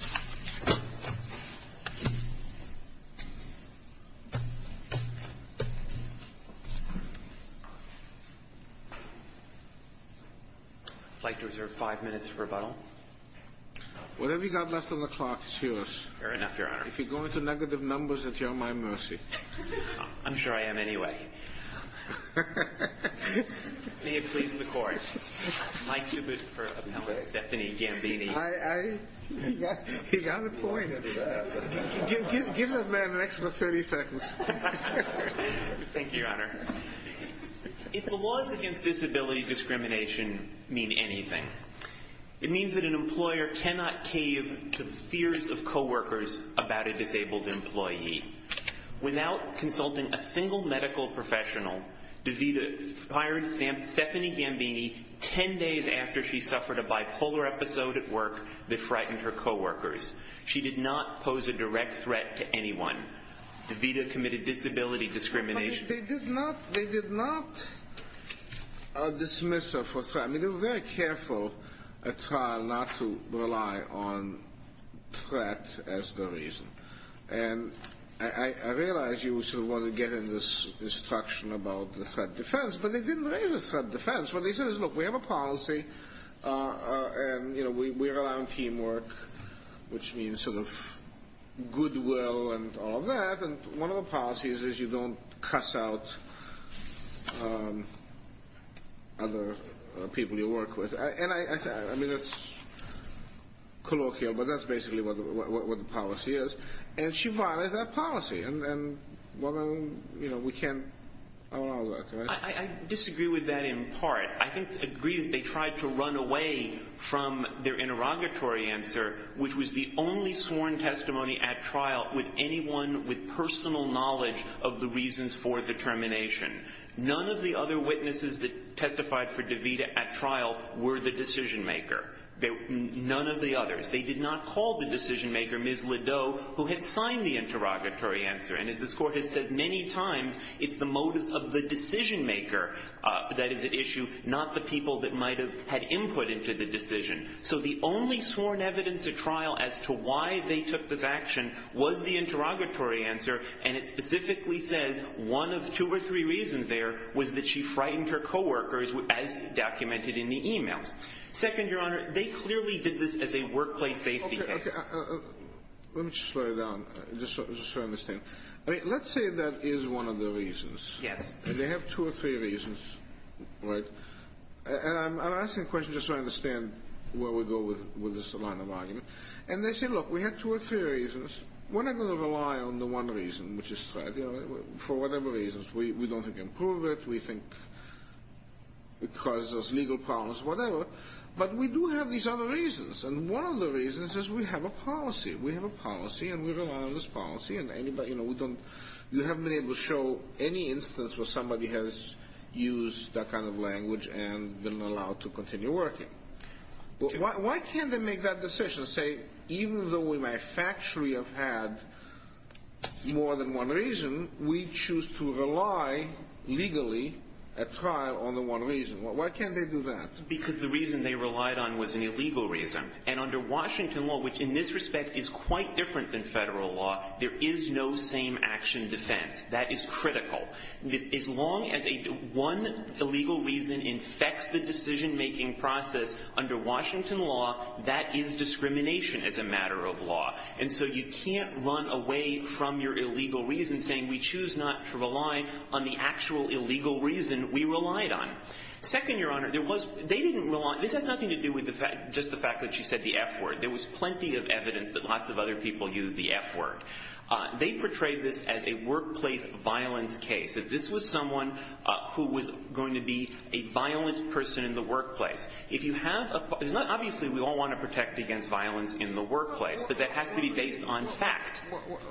I'd like to reserve five minutes for rebuttal. Whatever you've got left on the clock is yours. Fair enough, Your Honor. If you're going to negative numbers, it's at my mercy. I'm sure I am anyway. May it please the Court. I'd like to move for appellant Stephanie Gambini. He got a point. Give this man an extra 30 seconds. Thank you, Your Honor. If the laws against disability discrimination mean anything, it means that an employer cannot cave to the fears of coworkers about a disabled employee. Without consulting a single medical professional, DeVita fired Stephanie Gambini 10 days after she suffered a bipolar episode at work that frightened her coworkers. She did not pose a direct threat to anyone. DeVita committed disability discrimination. They did not dismiss her for threat. I mean, they were very careful at trial not to rely on threat as the reason. And I realize you sort of want to get in this instruction about the threat defense, but they didn't raise the threat defense. What they said is, look, we have a policy and, you know, we're allowing teamwork, which means sort of goodwill and all of that, and one of the policies is you don't cuss out other people you work with. And I mean, that's colloquial, but that's basically what the policy is. And she violated that policy, and, you know, we can't allow that. I disagree with that in part. I agree that they tried to run away from their interrogatory answer, which was the only sworn testimony at trial with anyone with personal knowledge of the reasons for the termination. None of the other witnesses that testified for DeVita at trial were the decision-maker. None of the others. They did not call the decision-maker Ms. Lideau, who had signed the interrogatory answer. And as this Court has said many times, it's the motives of the decision-maker that is at issue, not the people that might have had input into the decision. So the only sworn evidence at trial as to why they took this action was the interrogatory answer, and it specifically says one of two or three reasons there was that she frightened her coworkers, as documented in the e-mails. Second, Your Honor, they clearly did this as a workplace safety case. Okay. Let me just slow down just so I understand. I mean, let's say that is one of the reasons. Yes. They have two or three reasons, right? And I'm asking the question just so I understand where we go with this line of argument. And they say, look, we have two or three reasons. We're not going to rely on the one reason, which is threat, for whatever reasons. We don't think it can prove it. We think it causes us legal problems, whatever. But we do have these other reasons, and one of the reasons is we have a policy. We have a policy, and we rely on this policy. And, you know, you haven't been able to show any instance where somebody has used that kind of language and been allowed to continue working. Why can't they make that decision, say, even though we may factually have had more than one reason, we choose to rely legally at trial on the one reason? Why can't they do that? Because the reason they relied on was an illegal reason. And under Washington law, which in this respect is quite different than federal law, there is no same-action defense. That is critical. As long as one illegal reason infects the decision-making process under Washington law, that is discrimination as a matter of law. And so you can't run away from your illegal reason saying, we choose not to rely on the actual illegal reason we relied on. Second, Your Honor, there was – they didn't rely – this has nothing to do with just the fact that she said the F word. There was plenty of evidence that lots of other people used the F word. They portrayed this as a workplace violence case, that this was someone who was going to be a violent person in the workplace. If you have a – it's not – obviously, we all want to protect against violence in the workplace. But that has to be based on fact.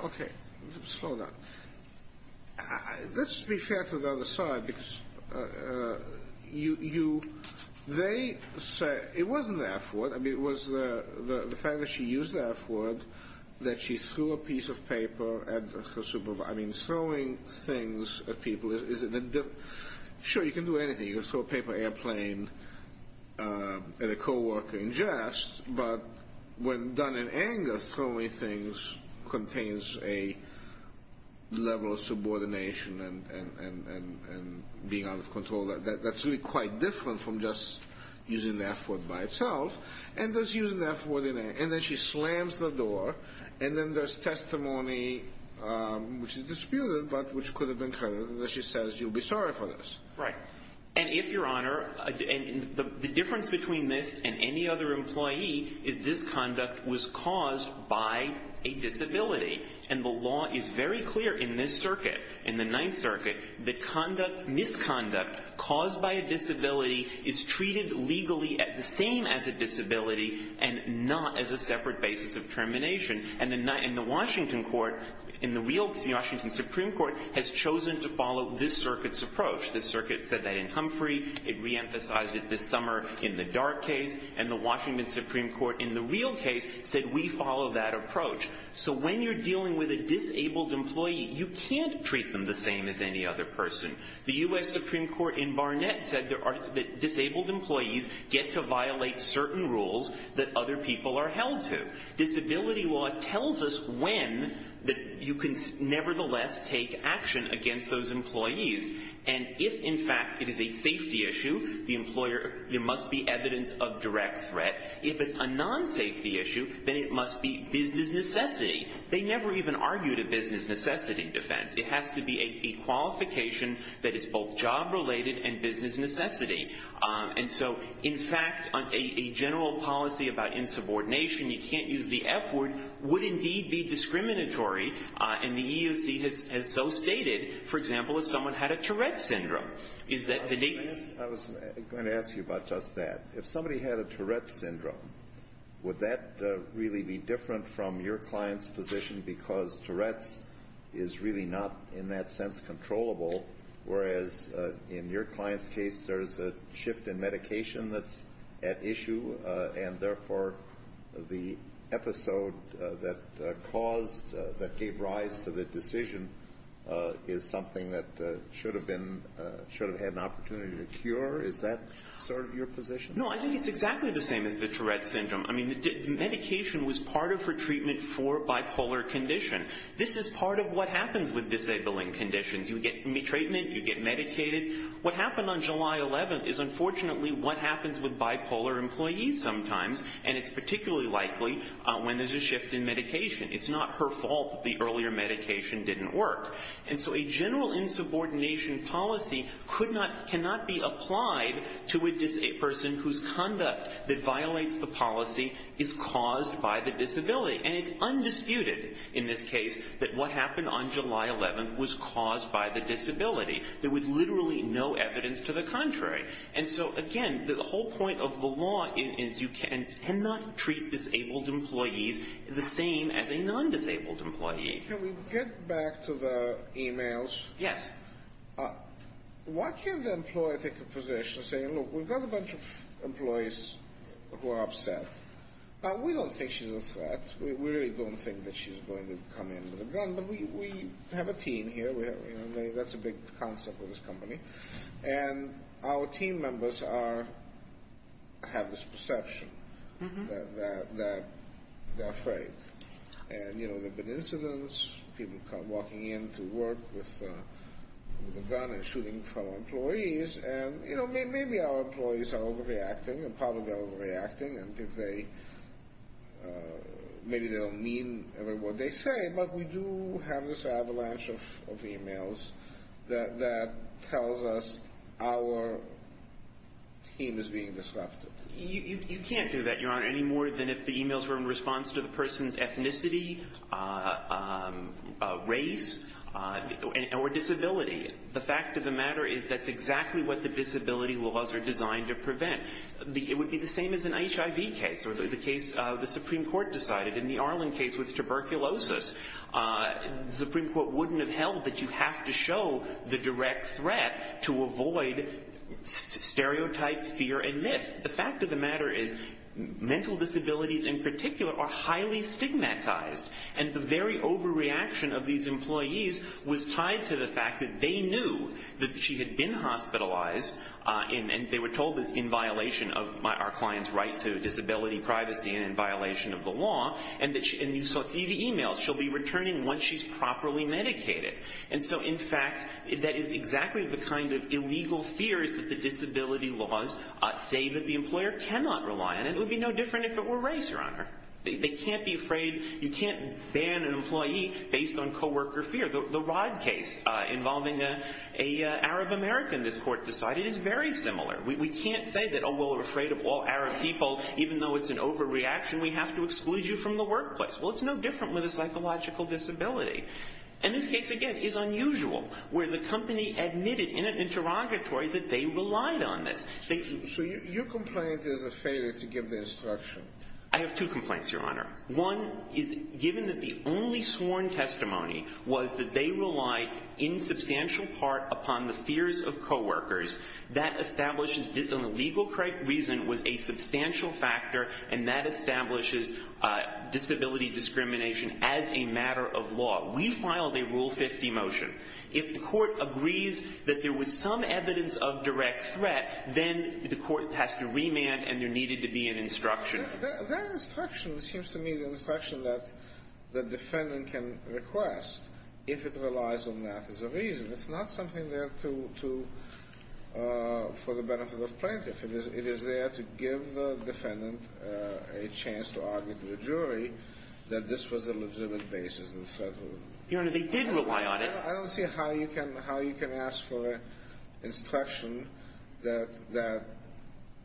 Okay. Slow down. Let's be fair to the other side, because you – they said – it wasn't the F word. I mean, it was the fact that she used the F word, that she threw a piece of paper at her supervisor. I mean, throwing things at people is – sure, you can do anything. You can throw a paper airplane at a coworker in jest. But when done in anger, throwing things contains a level of subordination and being out of control. That's really quite different from just using the F word by itself. And thus, using the F word in anger. And then she slams the door. And then there's testimony, which is disputed, but which could have been credited. And then she says, you'll be sorry for this. Right. And if, Your Honor – and the difference between this and any other employee is this conduct was caused by a disability. And the law is very clear in this circuit, in the Ninth Circuit, that conduct – misconduct caused by a disability is treated legally as the same as a disability and not as a separate basis of termination. And the Washington court – in the real – the Washington Supreme Court has chosen to follow this circuit's approach. The circuit said that in Humphrey. It reemphasized it this summer in the Dart case. And the Washington Supreme Court in the real case said we follow that approach. So when you're dealing with a disabled employee, you can't treat them the same as any other person. The U.S. Supreme Court in Barnett said that disabled employees get to violate certain rules that other people are held to. Disability law tells us when you can nevertheless take action against those employees. And if, in fact, it is a safety issue, the employer – there must be evidence of direct threat. If it's a non-safety issue, then it must be business necessity. They never even argued a business necessity defense. It has to be a qualification that is both job-related and business necessity. And so, in fact, a general policy about insubordination – you can't use the F word – would indeed be discriminatory. And the EEOC has so stated, for example, if someone had a Tourette syndrome, is that the – I was going to ask you about just that. If somebody had a Tourette syndrome, would that really be different from your client's position because Tourette's is really not, in that sense, controllable, whereas in your client's case, there's a shift in medication that's at issue and, therefore, the episode that caused – should have had an opportunity to cure, is that sort of your position? No, I think it's exactly the same as the Tourette syndrome. I mean, medication was part of her treatment for bipolar condition. This is part of what happens with disabling conditions. You get treatment. You get medicated. What happened on July 11th is, unfortunately, what happens with bipolar employees sometimes, and it's particularly likely when there's a shift in medication. It's not her fault that the earlier medication didn't work. And so a general insubordination policy cannot be applied to a person whose conduct that violates the policy is caused by the disability. And it's undisputed in this case that what happened on July 11th was caused by the disability. There was literally no evidence to the contrary. And so, again, the whole point of the law is you cannot treat disabled employees the same as a non-disabled employee. Can we get back to the e-mails? Yes. Why can't the employer take a position saying, look, we've got a bunch of employees who are upset. Now, we don't think she's a threat. We really don't think that she's going to come in with a gun. But we have a team here. That's a big concept with this company. And our team members have this perception that they're afraid. And, you know, there have been incidents, people walking in to work with a gun and shooting fellow employees. And, you know, maybe our employees are overreacting and probably overreacting. And maybe they don't mean what they say. But we do have this avalanche of e-mails that tells us our team is being disrupted. You can't do that, Your Honor, any more than if the e-mails were in response to the person's ethnicity, race, or disability. The fact of the matter is that's exactly what the disability laws are designed to prevent. It would be the same as an HIV case or the case the Supreme Court decided in the Arlen case with tuberculosis. The Supreme Court wouldn't have held that you have to show the direct threat to avoid stereotype, fear, and myth. The fact of the matter is mental disabilities in particular are highly stigmatized. And the very overreaction of these employees was tied to the fact that they knew that she had been hospitalized. And they were told this in violation of our client's right to disability privacy and in violation of the law. And you saw through the e-mails, she'll be returning once she's properly medicated. And so, in fact, that is exactly the kind of illegal fears that the disability laws say that the employer cannot rely on. And it would be no different if it were race, Your Honor. They can't be afraid. You can't ban an employee based on co-worker fear. The Rod case involving an Arab-American, this court decided, is very similar. We can't say that, oh, well, we're afraid of all Arab people. Even though it's an overreaction, we have to exclude you from the workplace. Well, it's no different with a psychological disability. And this case, again, is unusual, where the company admitted in an interrogatory that they relied on this. So your complaint is a failure to give the instruction. I have two complaints, Your Honor. One is given that the only sworn testimony was that they relied in substantial part upon the fears of co-workers, that establishes an illegal reason with a substantial factor, and that establishes disability discrimination as a matter of law. We filed a Rule 50 motion. If the court agrees that there was some evidence of direct threat, then the court has to remand and there needed to be an instruction. That instruction seems to me the instruction that the defendant can request if it relies on that as a reason. It's not something there to – for the benefit of plaintiff. It is there to give the defendant a chance to argue to the jury that this was a legitimate basis in the threat of – Your Honor, they did rely on it. I don't see how you can – how you can ask for instruction that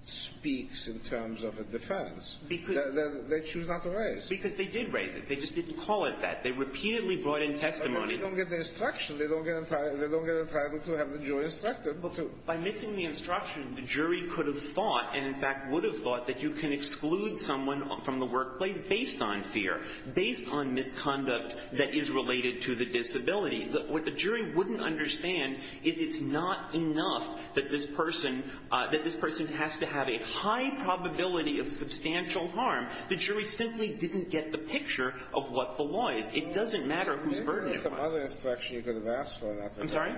speaks in terms of a defense. Because – They choose not to raise. Because they did raise it. They just didn't call it that. They repeatedly brought in testimony. But they don't get the instruction. They don't get entitled – they don't get entitled to have the jury instructed. By missing the instruction, the jury could have thought, and in fact would have thought, that you can exclude someone from the workplace based on fear, based on misconduct that is related to the disability. What the jury wouldn't understand is it's not enough that this person – that this person has to have a high probability of substantial harm. The jury simply didn't get the picture of what belies. It doesn't matter whose burden it was. Maybe there's some other instruction you could have asked for. I'm sorry?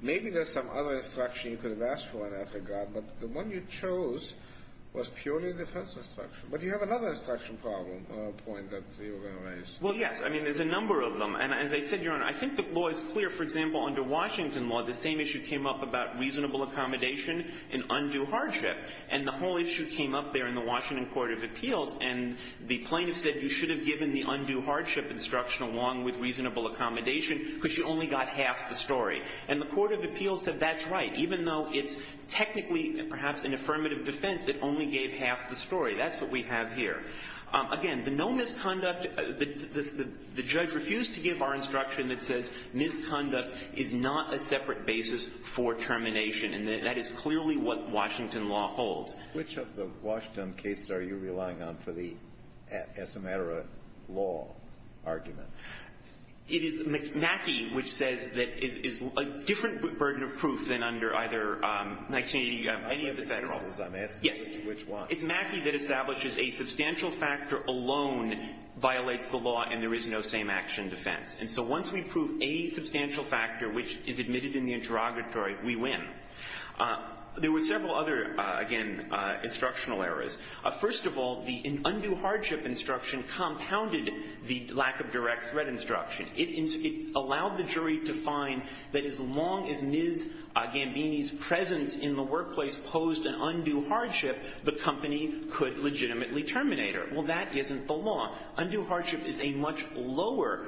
Maybe there's some other instruction you could have asked for, and I forgot. But the one you chose was purely defense instruction. But you have another instruction problem or point that you were going to raise. Well, yes. I mean, there's a number of them. And as I said, Your Honor, I think the law is clear. For example, under Washington law, the same issue came up about reasonable accommodation and undue hardship. And the whole issue came up there in the Washington court of appeals. And the plaintiff said you should have given the undue hardship instruction along with reasonable accommodation because you only got half the story. And the court of appeals said that's right. Even though it's technically perhaps an affirmative defense, it only gave half the story. That's what we have here. Again, the no misconduct – the judge refused to give our instruction that says misconduct is not a separate basis for termination. And that is clearly what Washington law holds. Which of the Washington cases are you relying on for the estimator law argument? It is Mackey which says that it is a different burden of proof than under either 1980 or any of the federal laws. I'm having trouble because I'm asking which one. Yes. It's Mackey that establishes a substantial factor alone violates the law and there is no same-action defense. And so once we prove a substantial factor which is admitted in the interrogatory, we win. There were several other, again, instructional errors. First of all, the undue hardship instruction compounded the lack of direct threat instruction. It allowed the jury to find that as long as Ms. Gambini's presence in the workplace posed an undue hardship, the company could legitimately terminate her. Well, that isn't the law. Undue hardship is a much lower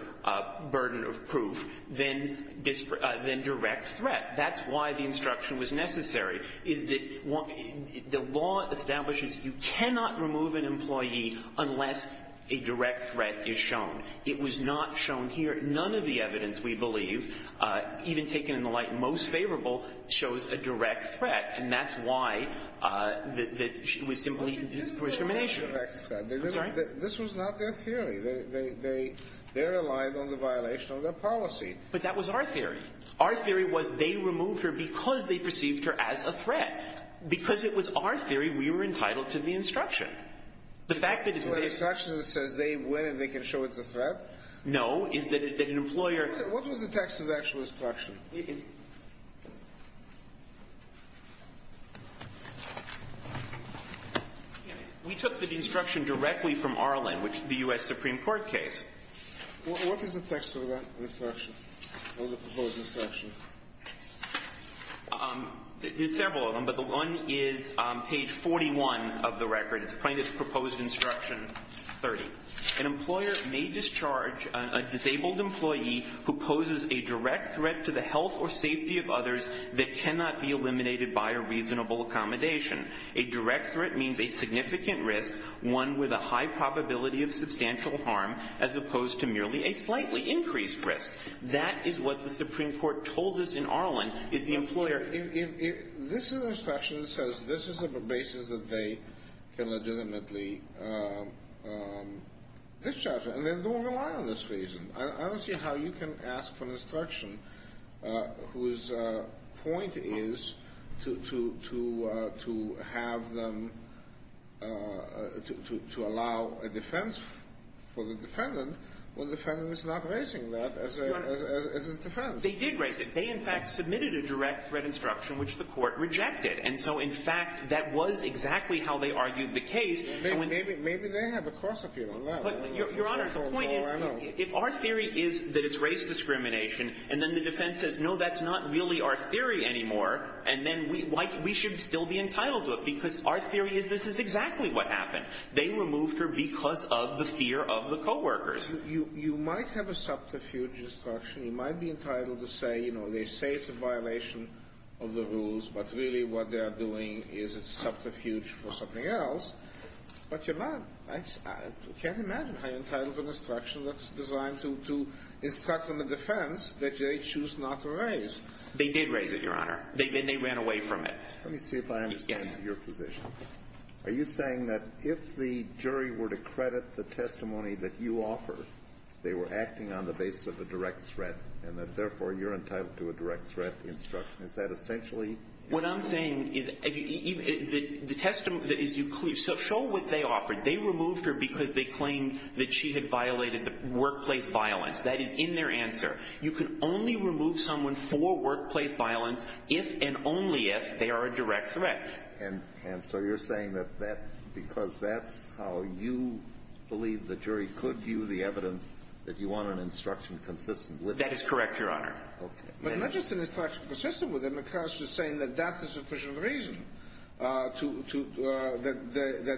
burden of proof than direct threat. That's why the instruction was necessary. Is that the law establishes you cannot remove an employee unless a direct threat is shown. It was not shown here. None of the evidence we believe, even taken in the light most favorable, shows a direct threat. And that's why it was simply discrimination. This was not their theory. They relied on the violation of their policy. But that was our theory. Our theory was they removed her because they perceived her as a threat. Because it was our theory, we were entitled to the instruction. The fact that it's the instruction that says they win and they can show it's a threat? No. Is that an employer What was the text of the actual instruction? We took the instruction directly from our language, the U.S. Supreme Court case. What is the text of that instruction, of the proposed instruction? There's several of them, but the one is on page 41 of the record. It's plaintiff's proposed instruction 30. An employer may discharge a disabled employee who poses a direct threat to the health or safety of others that cannot be eliminated by a reasonable accommodation. A direct threat means a significant risk, one with a high probability of substantial harm as opposed to merely a slightly increased risk. That is what the Supreme Court told us in Arlen is the employer This instruction says this is a basis that they can legitimately discharge her. And they don't rely on this reason. I don't see how you can ask for an instruction whose point is to have them to allow a defense for the defendant when the defendant is not raising that as a defense. They did raise it. They, in fact, submitted a direct threat instruction, which the Court rejected. And so, in fact, that was exactly how they argued the case. Maybe they have a cross-appeal on that. But, Your Honor, the point is if our theory is that it's race discrimination and then the defense says, no, that's not really our theory anymore, and then we should still be entitled to it because our theory is this is exactly what happened. They removed her because of the fear of the coworkers. You might have a subterfuge instruction. You might be entitled to say, you know, they say it's a violation of the rules, but really what they are doing is it's subterfuge for something else. But you're not. I can't imagine how you're entitled to an instruction that's designed to instruct on the defense that they choose not to raise. They did raise it, Your Honor. They ran away from it. Let me see if I understand your position. Yes. Are you saying that if the jury were to credit the testimony that you offer, they were acting on the basis of a direct threat, and that, therefore, you're entitled to a direct threat instruction? Is that essentially what you're saying? So show what they offered. They removed her because they claimed that she had violated the workplace violence. That is in their answer. You can only remove someone for workplace violence if and only if they are a direct threat. And so you're saying that because that's how you believe the jury could view the evidence, that you want an instruction consistent with that? That is correct, Your Honor. Okay. But not just an instruction consistent with it, because you're saying that that's a sufficient reason that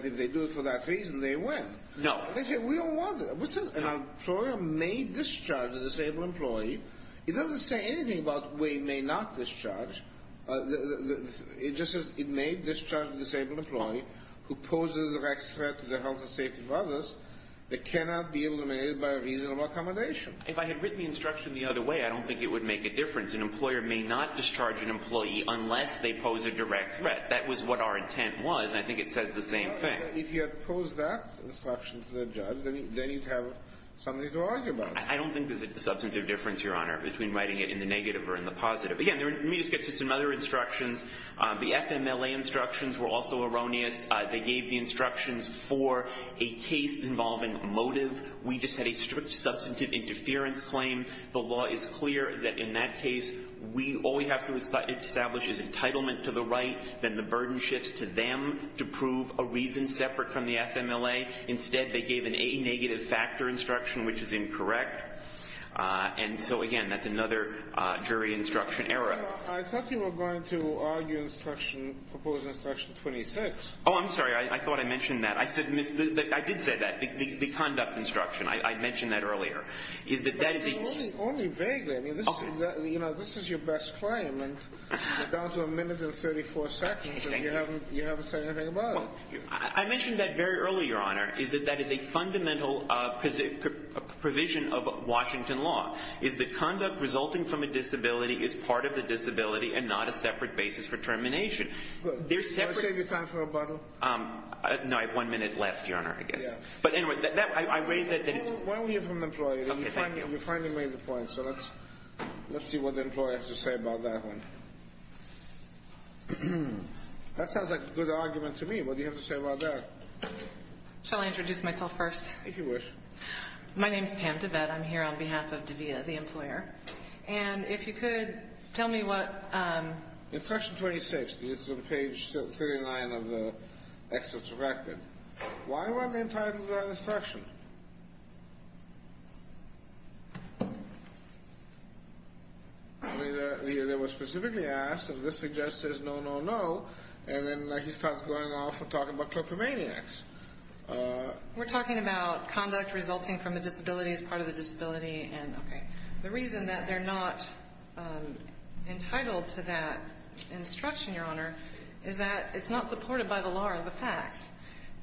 if they do it for that reason, they win. No. We all want it. An employer may discharge a disabled employee. It doesn't say anything about where you may not discharge. It just says it may discharge a disabled employee who poses a direct threat to the health and safety of others that cannot be eliminated by a reasonable accommodation. If I had written the instruction the other way, I don't think it would make a difference. An employer may not discharge an employee unless they pose a direct threat. That was what our intent was, and I think it says the same thing. If you had posed that instruction to the judge, then you'd have something to argue about. I don't think there's a substantive difference, Your Honor, between writing it in the negative or in the positive. Again, let me just get to some other instructions. The FMLA instructions were also erroneous. They gave the instructions for a case involving motive. We just had a strict substantive interference claim. The law is clear that in that case, we all we have to establish is entitlement to the right. Then the burden shifts to them to prove a reason separate from the FMLA. Instead, they gave an A negative factor instruction, which is incorrect. And so, again, that's another jury instruction error. I thought you were going to argue instruction, propose instruction 26. Oh, I'm sorry. I thought I mentioned that. I did say that, the conduct instruction. I mentioned that earlier. Only vaguely. This is your best claim, and you're down to a minute and 34 seconds, and you haven't said anything about it. I mentioned that very early, Your Honor, is that that is a fundamental provision of Washington law, is that conduct resulting from a disability is part of the disability and not a separate basis for termination. Do you want to save your time for rebuttal? No, I have one minute left, Your Honor, I guess. Yeah. But anyway, I raised it. Why don't we hear from the employee? You finally made the point, so let's see what the employee has to say about that one. That sounds like a good argument to me. What do you have to say about that? Shall I introduce myself first? If you wish. My name is Pam DeBette. I'm here on behalf of DeVita, the employer. And if you could tell me what... In section 26, this is on page 39 of the excerpt's record, why weren't they entitled to that instruction? I mean, they were specifically asked, and this suggests there's no, no, no, and then he starts going off and talking about kleptomaniacs. We're talking about conduct resulting from a disability is part of the disability, and, okay. The reason that they're not entitled to that instruction, Your Honor, is that it's not supported by the law or the facts.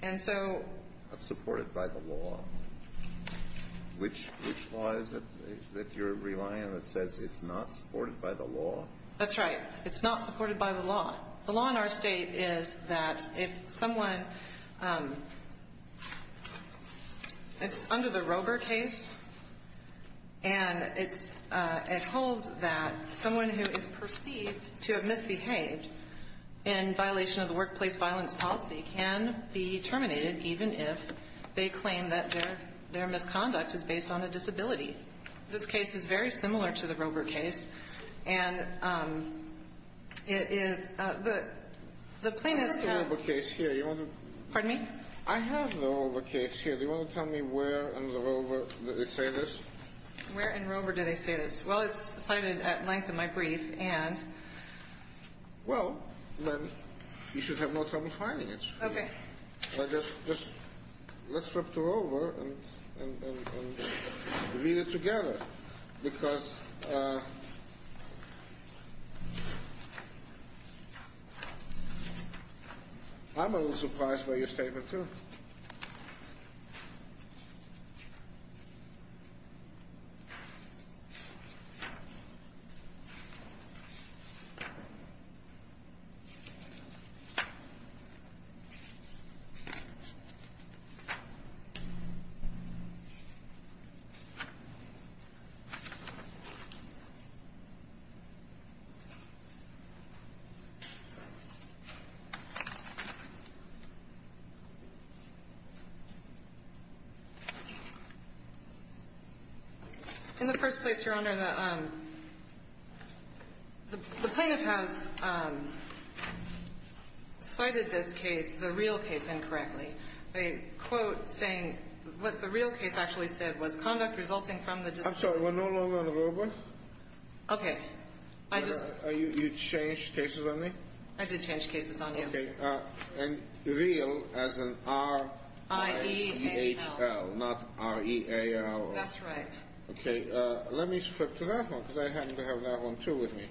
And so... Not supported by the law. Which law is it that you're relying on that says it's not supported by the law? That's right. It's not supported by the law. The law in our state is that if someone... It's under the Roeber case, and it holds that someone who is perceived to have misbehaved in violation of the workplace violence policy can be terminated even if they claim that their misconduct is based on a disability. This case is very similar to the Roeber case, and it is... I have the Roeber case here. Pardon me? I have the Roeber case here. Do you want to tell me where in the Roeber they say this? Where in Roeber do they say this? Well, it's cited at length in my brief, and... Well, then you should have no trouble finding it. Okay. Let's flip to Roeber and read it together, because I'm a little surprised by your statement, too. In the first place, Your Honor, the plaintiff has cited this case, the real case, incorrectly. They quote saying what the real case actually said was conduct resulting from the... I'm sorry, we're no longer on Roeber? Okay. You changed cases on me? I did change cases on you. Okay. And real as in R-I-E-H-L, not R-E-A-L. That's right. Okay. Let me flip to that one, because I happen to have that one, too, with me.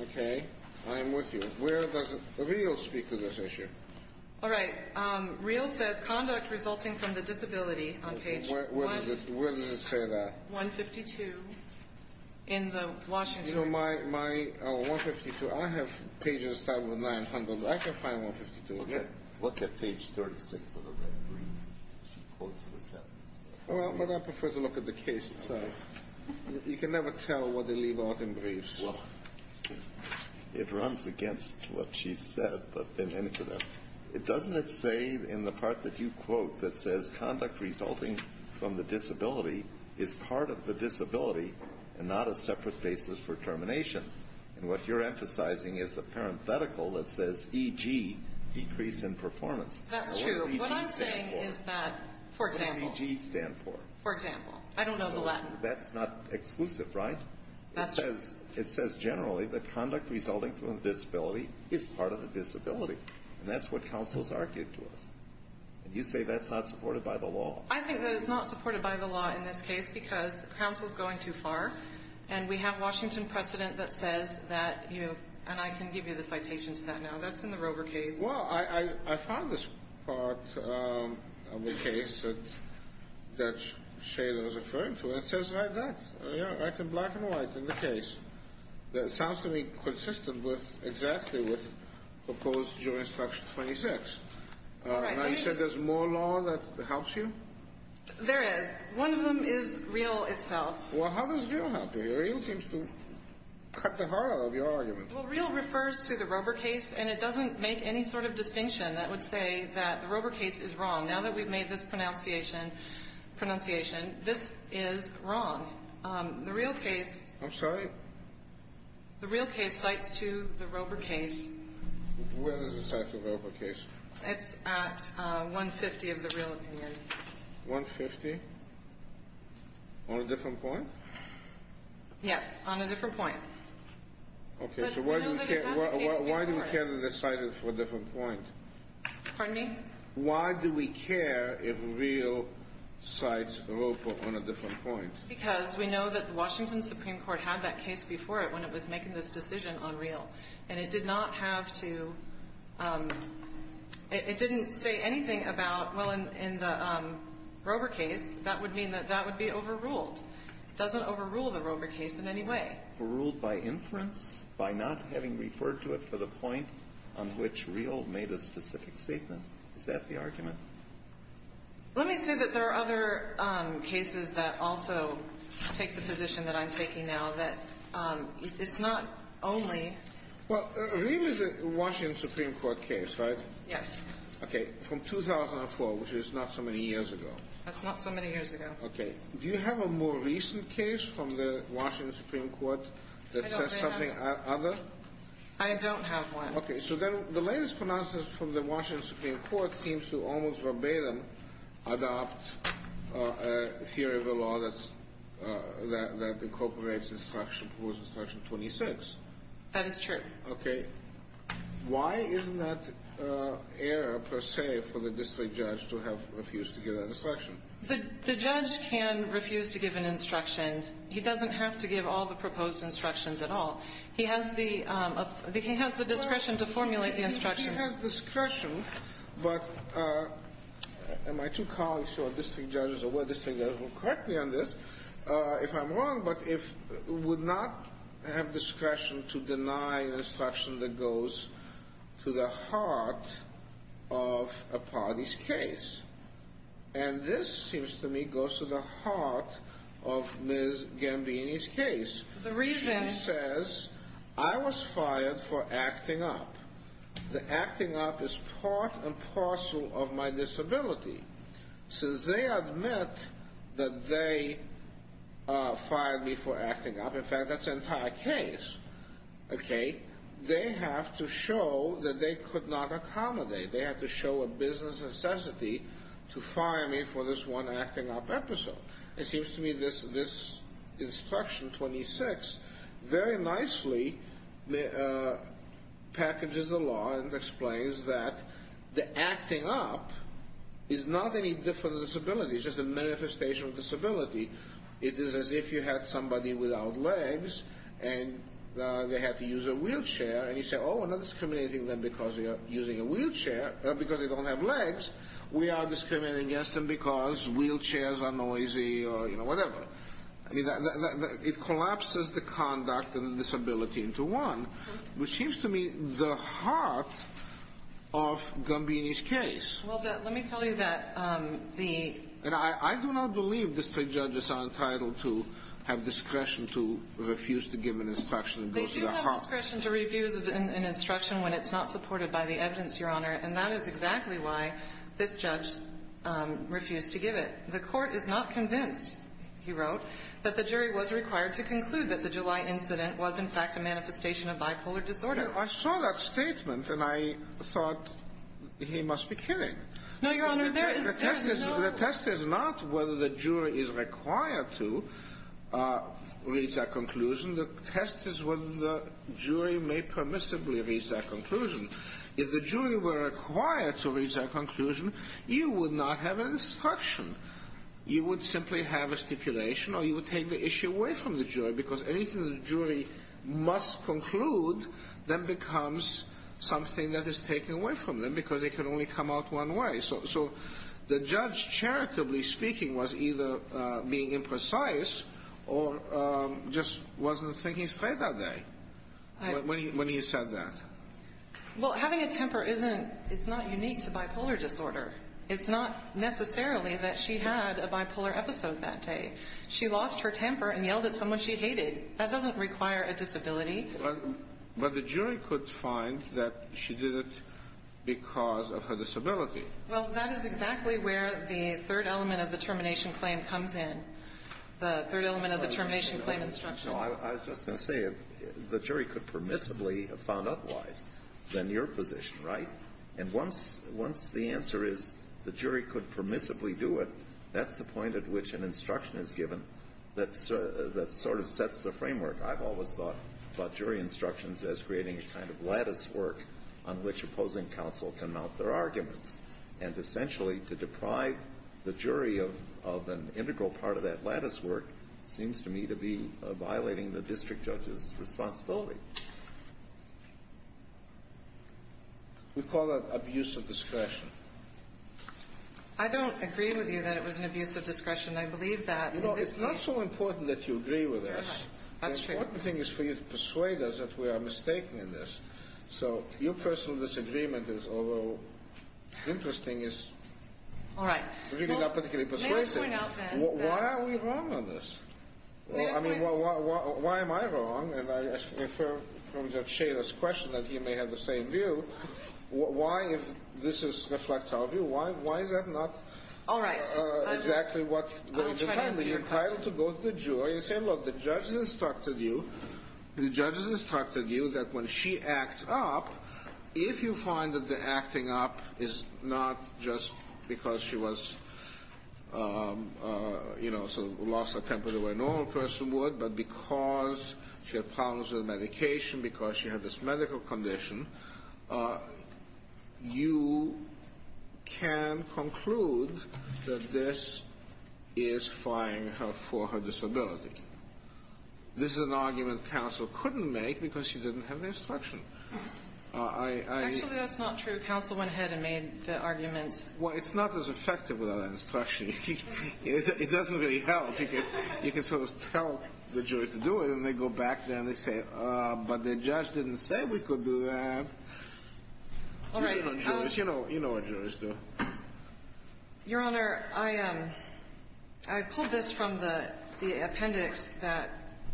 Okay. I am with you. Where does real speak to this issue? All right. Real says conduct resulting from the disability on page one. Where does it say that? 152 in the Washington. You know, my 152, I have pages starting with 900. I can find 152. Okay. Look at page 36 of the red brief. She quotes the sentence. Well, but I prefer to look at the case itself. You can never tell what they leave out in briefs. Well, it runs against what she said, but in any event, doesn't it say in the part that you quote that says conduct resulting from the disability is part of the disability and not a separate basis for termination? And what you're emphasizing is a parenthetical that says E-G, decrease in performance. That's true. What I'm saying is that, for example. What does E-G stand for? For example. I don't know the Latin. That's not exclusive, right? That's true. It says generally that conduct resulting from the disability is part of the disability. And that's what counsel's argued to us. And you say that's not supported by the law. I think that it's not supported by the law in this case because counsel's going too far. And we have Washington precedent that says that, you know. And I can give you the citation to that now. That's in the Rover case. Well, I found this part of the case that Shayla was referring to. And it says right there. Yeah. It's in black and white in the case. It sounds to me consistent with exactly what's proposed during section 26. Now, you said there's more law that helps you? There is. One of them is REAL itself. Well, how does REAL help you? REAL seems to cut the heart out of your argument. Well, REAL refers to the Rover case. And it doesn't make any sort of distinction that would say that the Rover case is wrong. Now that we've made this pronunciation, this is wrong. The REAL case. I'm sorry? The REAL case cites to the Rover case. Where does it cite to the Rover case? It's at 150 of the REAL opinion. 150? On a different point? Yes. On a different point. Okay. So why do we care that it's cited for a different point? Pardon me? Why do we care if REAL cites the Rover on a different point? Because we know that the Washington Supreme Court had that case before it when it was making this decision on REAL. And it did not have to – it didn't say anything about, well, in the Rover case, that would mean that that would be overruled. It doesn't overrule the Rover case in any way. Overruled by inference? By not having referred to it for the point on which REAL made a specific statement? Is that the argument? Let me say that there are other cases that also take the position that I'm taking now that it's not only – Well, REAL is a Washington Supreme Court case, right? Yes. Okay. From 2004, which is not so many years ago. That's not so many years ago. Okay. Do you have a more recent case from the Washington Supreme Court that says something other? I don't have one. Okay. So then the latest pronouncement from the Washington Supreme Court seems to almost verbatim adopt a theory of the law that incorporates instruction, Proposed Instruction 26. That is true. Okay. Why isn't that error, per se, for the district judge to have refused to give that instruction? The judge can refuse to give an instruction. He doesn't have to give all the proposed instructions at all. He has the discretion to formulate the instructions. He has discretion, but my two colleagues who are district judges or were district judges will correct me on this if I'm wrong, but would not have discretion to deny an instruction that goes to the heart of a party's case. And this seems to me goes to the heart of Ms. Gambini's case. The reason? She says, I was fired for acting up. The acting up is part and parcel of my disability. Since they admit that they fired me for acting up, in fact, that's the entire case, okay, they have to show that they could not accommodate. They have to show a business necessity to fire me for this one acting up episode. It seems to me this instruction 26 very nicely packages the law and explains that the acting up is not any different disability. It's just a manifestation of disability. It is as if you had somebody without legs and they had to use a wheelchair, and you say, oh, we're not discriminating them because they're using a wheelchair, because they don't have legs. We are discriminating against them because wheelchairs are noisy or, you know, whatever. I mean, it collapses the conduct and the disability into one, which seems to me the heart of Gambini's case. Well, let me tell you that the ‑‑ And I do not believe district judges are entitled to have discretion to refuse to give an instruction that goes to the heart. They do have discretion to refuse an instruction when it's not supported by the evidence, Your Honor, and that is exactly why this judge refused to give it. The court is not convinced, he wrote, that the jury was required to conclude that the July incident was in fact a manifestation of bipolar disorder. I saw that statement, and I thought he must be kidding. No, Your Honor, there is no ‑‑ The test is not whether the jury is required to reach that conclusion. The test is whether the jury may permissibly reach that conclusion. If the jury were required to reach that conclusion, you would not have an instruction. You would simply have a stipulation, or you would take the issue away from the jury, because anything the jury must conclude then becomes something that is taken away from them, because it can only come out one way. So the judge, charitably speaking, was either being imprecise or just wasn't thinking straight that day when he said that. Well, having a temper isn't ‑‑ it's not unique to bipolar disorder. It's not necessarily that she had a bipolar episode that day. She lost her temper and yelled at someone she hated. That doesn't require a disability. But the jury could find that she did it because of her disability. Well, that is exactly where the third element of the termination claim comes in, the third element of the termination claim instruction. No, I was just going to say, the jury could permissibly have found otherwise than your position, right? And once the answer is the jury could permissibly do it, that's the point at which an instruction is given that sort of sets the framework. I've always thought about jury instructions as creating a kind of latticework on which opposing counsel can mount their arguments. And essentially, to deprive the jury of an integral part of that latticework seems to me to be violating the district judge's responsibility. We call that abuse of discretion. I don't agree with you that it was an abuse of discretion. I believe that. You know, it's not so important that you agree with us. That's true. The important thing is for you to persuade us that we are mistaken in this. So your personal disagreement is, although interesting, is really not particularly persuasive. Why are we wrong on this? I mean, why am I wrong? And I infer from Judge Schader's question that he may have the same view. Why, if this reflects our view, why is that not exactly what goes? I'll try to answer your question. You're entitled to go to the jury and say, look, the judge has instructed you, the judge has instructed you that when she acts up, if you find that the acting up is not just because she was, you know, sort of lost her temper the way a normal person would, but because she had problems with medication, because she had this medical condition, you can conclude that this is firing her for her disability. This is an argument counsel couldn't make because she didn't have the instruction. Actually, that's not true. Counsel went ahead and made the arguments. Well, it's not as effective without an instruction. It doesn't really help. You can sort of tell the jury to do it, and they go back there and they say, but the judge didn't say we could do that. All right. You know what jurors do. Your Honor, I pulled this from the appendix that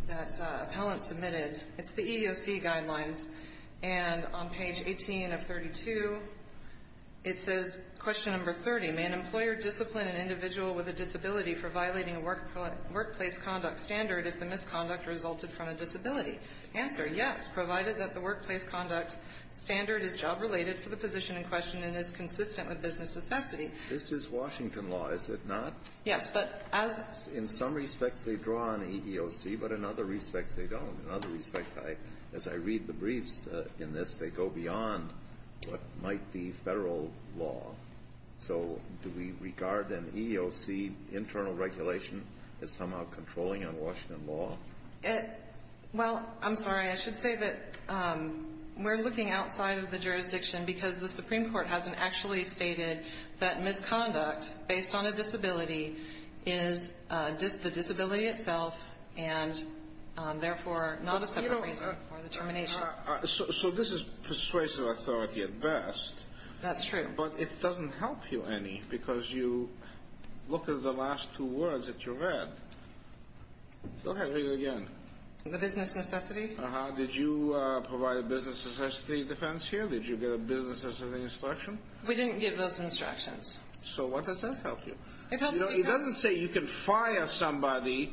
appellant submitted. It's the EEOC guidelines. And on page 18 of 32, it says, question number 30, may an employer discipline an individual with a disability for violating a workplace conduct standard if the misconduct resulted from a disability? Answer, yes, provided that the workplace conduct standard is job-related for the position in question and is consistent with business necessity. This is Washington law, is it not? Yes. In some respects they draw on EEOC, but in other respects they don't. In other respects, as I read the briefs in this, they go beyond what might be Federal law. So do we regard an EEOC internal regulation as somehow controlling on Washington law? Well, I'm sorry, I should say that we're looking outside of the jurisdiction because the Supreme Court hasn't actually stated that misconduct based on a disability is the disability itself and, therefore, not a separate reason for the termination. So this is persuasive authority at best. That's true. But it doesn't help you any because you look at the last two words that you read. Go ahead, read it again. The business necessity. Did you provide a business necessity defense here? Did you get a business necessity instruction? We didn't give those instructions. So what does that help you? It doesn't say you can fire somebody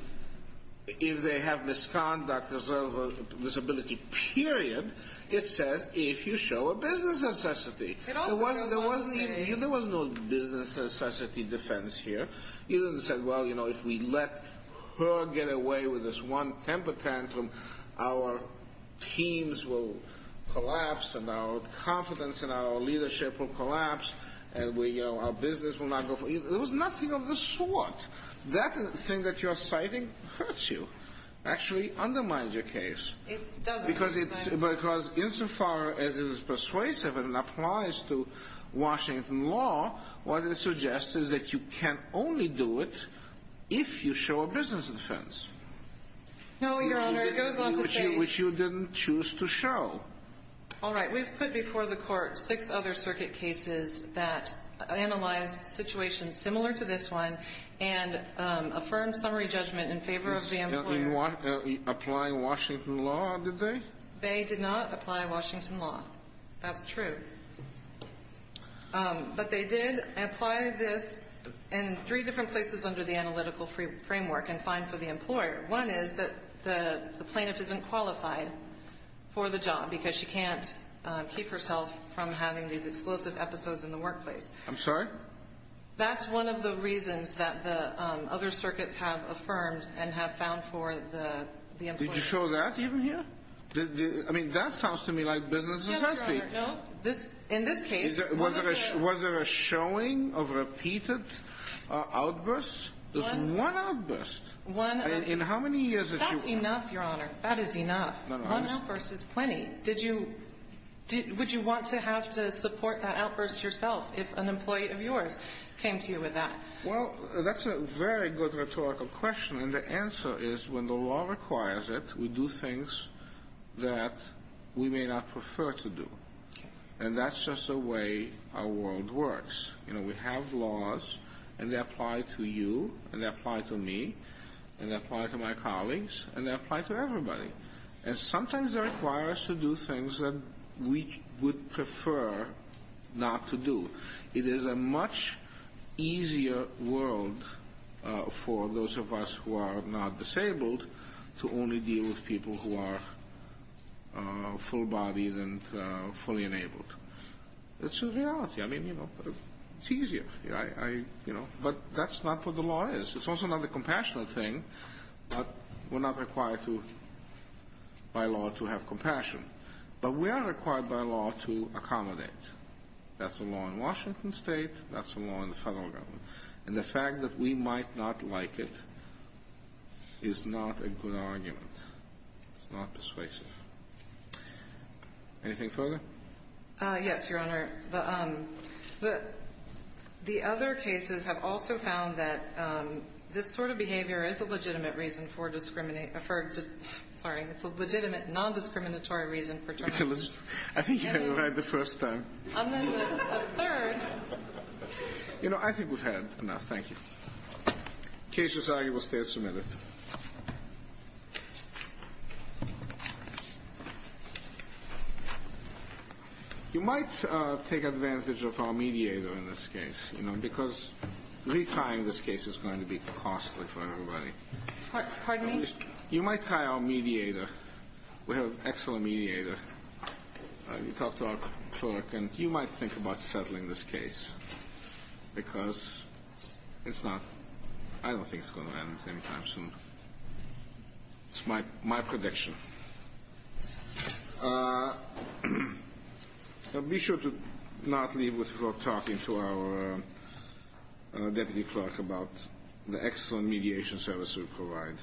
if they have misconduct as well as a disability, period. It says if you show a business necessity. There was no business necessity defense here. You didn't say, well, if we let her get away with this one temper tantrum, our teams will collapse and our confidence in our leadership will collapse and our business will not go forward. There was nothing of the sort. That thing that you're citing hurts you, actually undermines your case. It doesn't. Because it's as far as it is persuasive and applies to Washington law, what it suggests is that you can only do it if you show a business defense. No, Your Honor. It goes on to say. Which you didn't choose to show. All right. We've put before the Court six other circuit cases that analyzed situations similar to this one and affirmed summary judgment in favor of the employer. They didn't apply Washington law, did they? They did not apply Washington law. That's true. But they did apply this in three different places under the analytical framework and fine for the employer. One is that the plaintiff isn't qualified for the job because she can't keep herself from having these explosive episodes in the workplace. I'm sorry? That's one of the reasons that the other circuits have affirmed and have found for the employer. Did you show that even here? I mean, that sounds to me like business defense. Yes, Your Honor. No, in this case. Was there a showing of repeated outbursts? Just one outburst. In how many years did you? That's enough, Your Honor. That is enough. One outburst is plenty. Would you want to have to support that outburst yourself if an employee of yours came to you with that? Well, that's a very good rhetorical question. And the answer is when the law requires it, we do things that we may not prefer to do. And that's just the way our world works. You know, we have laws, and they apply to you, and they apply to me, and they apply to my colleagues, and they apply to everybody. And sometimes they require us to do things that we would prefer not to do. It is a much easier world for those of us who are not disabled to only deal with people who are full-bodied and fully enabled. It's a reality. I mean, you know, it's easier. But that's not what the law is. It's also not a compassionate thing, but we're not required by law to have compassion. But we are required by law to accommodate. That's the law in Washington State. That's the law in the federal government. And the fact that we might not like it is not a good argument. It's not persuasive. Anything further? Yes, Your Honor. The other cases have also found that this sort of behavior is a legitimate reason for discrimination for the legitimate nondiscriminatory reason for termination. I think you had it right the first time. I'm in the third. You know, I think we've had enough. Thank you. The case is argued. We'll stay a minute. You might take advantage of our mediator in this case, you know, because retrying this case is going to be costly for everybody. Pardon me? You might try our mediator. We have an excellent mediator. We talked to our clerk. And you might think about settling this case because it's not – I don't think it's going to end at the same time. It's my prediction. Be sure to not leave without talking to our deputy clerk about the excellent mediation service we provide.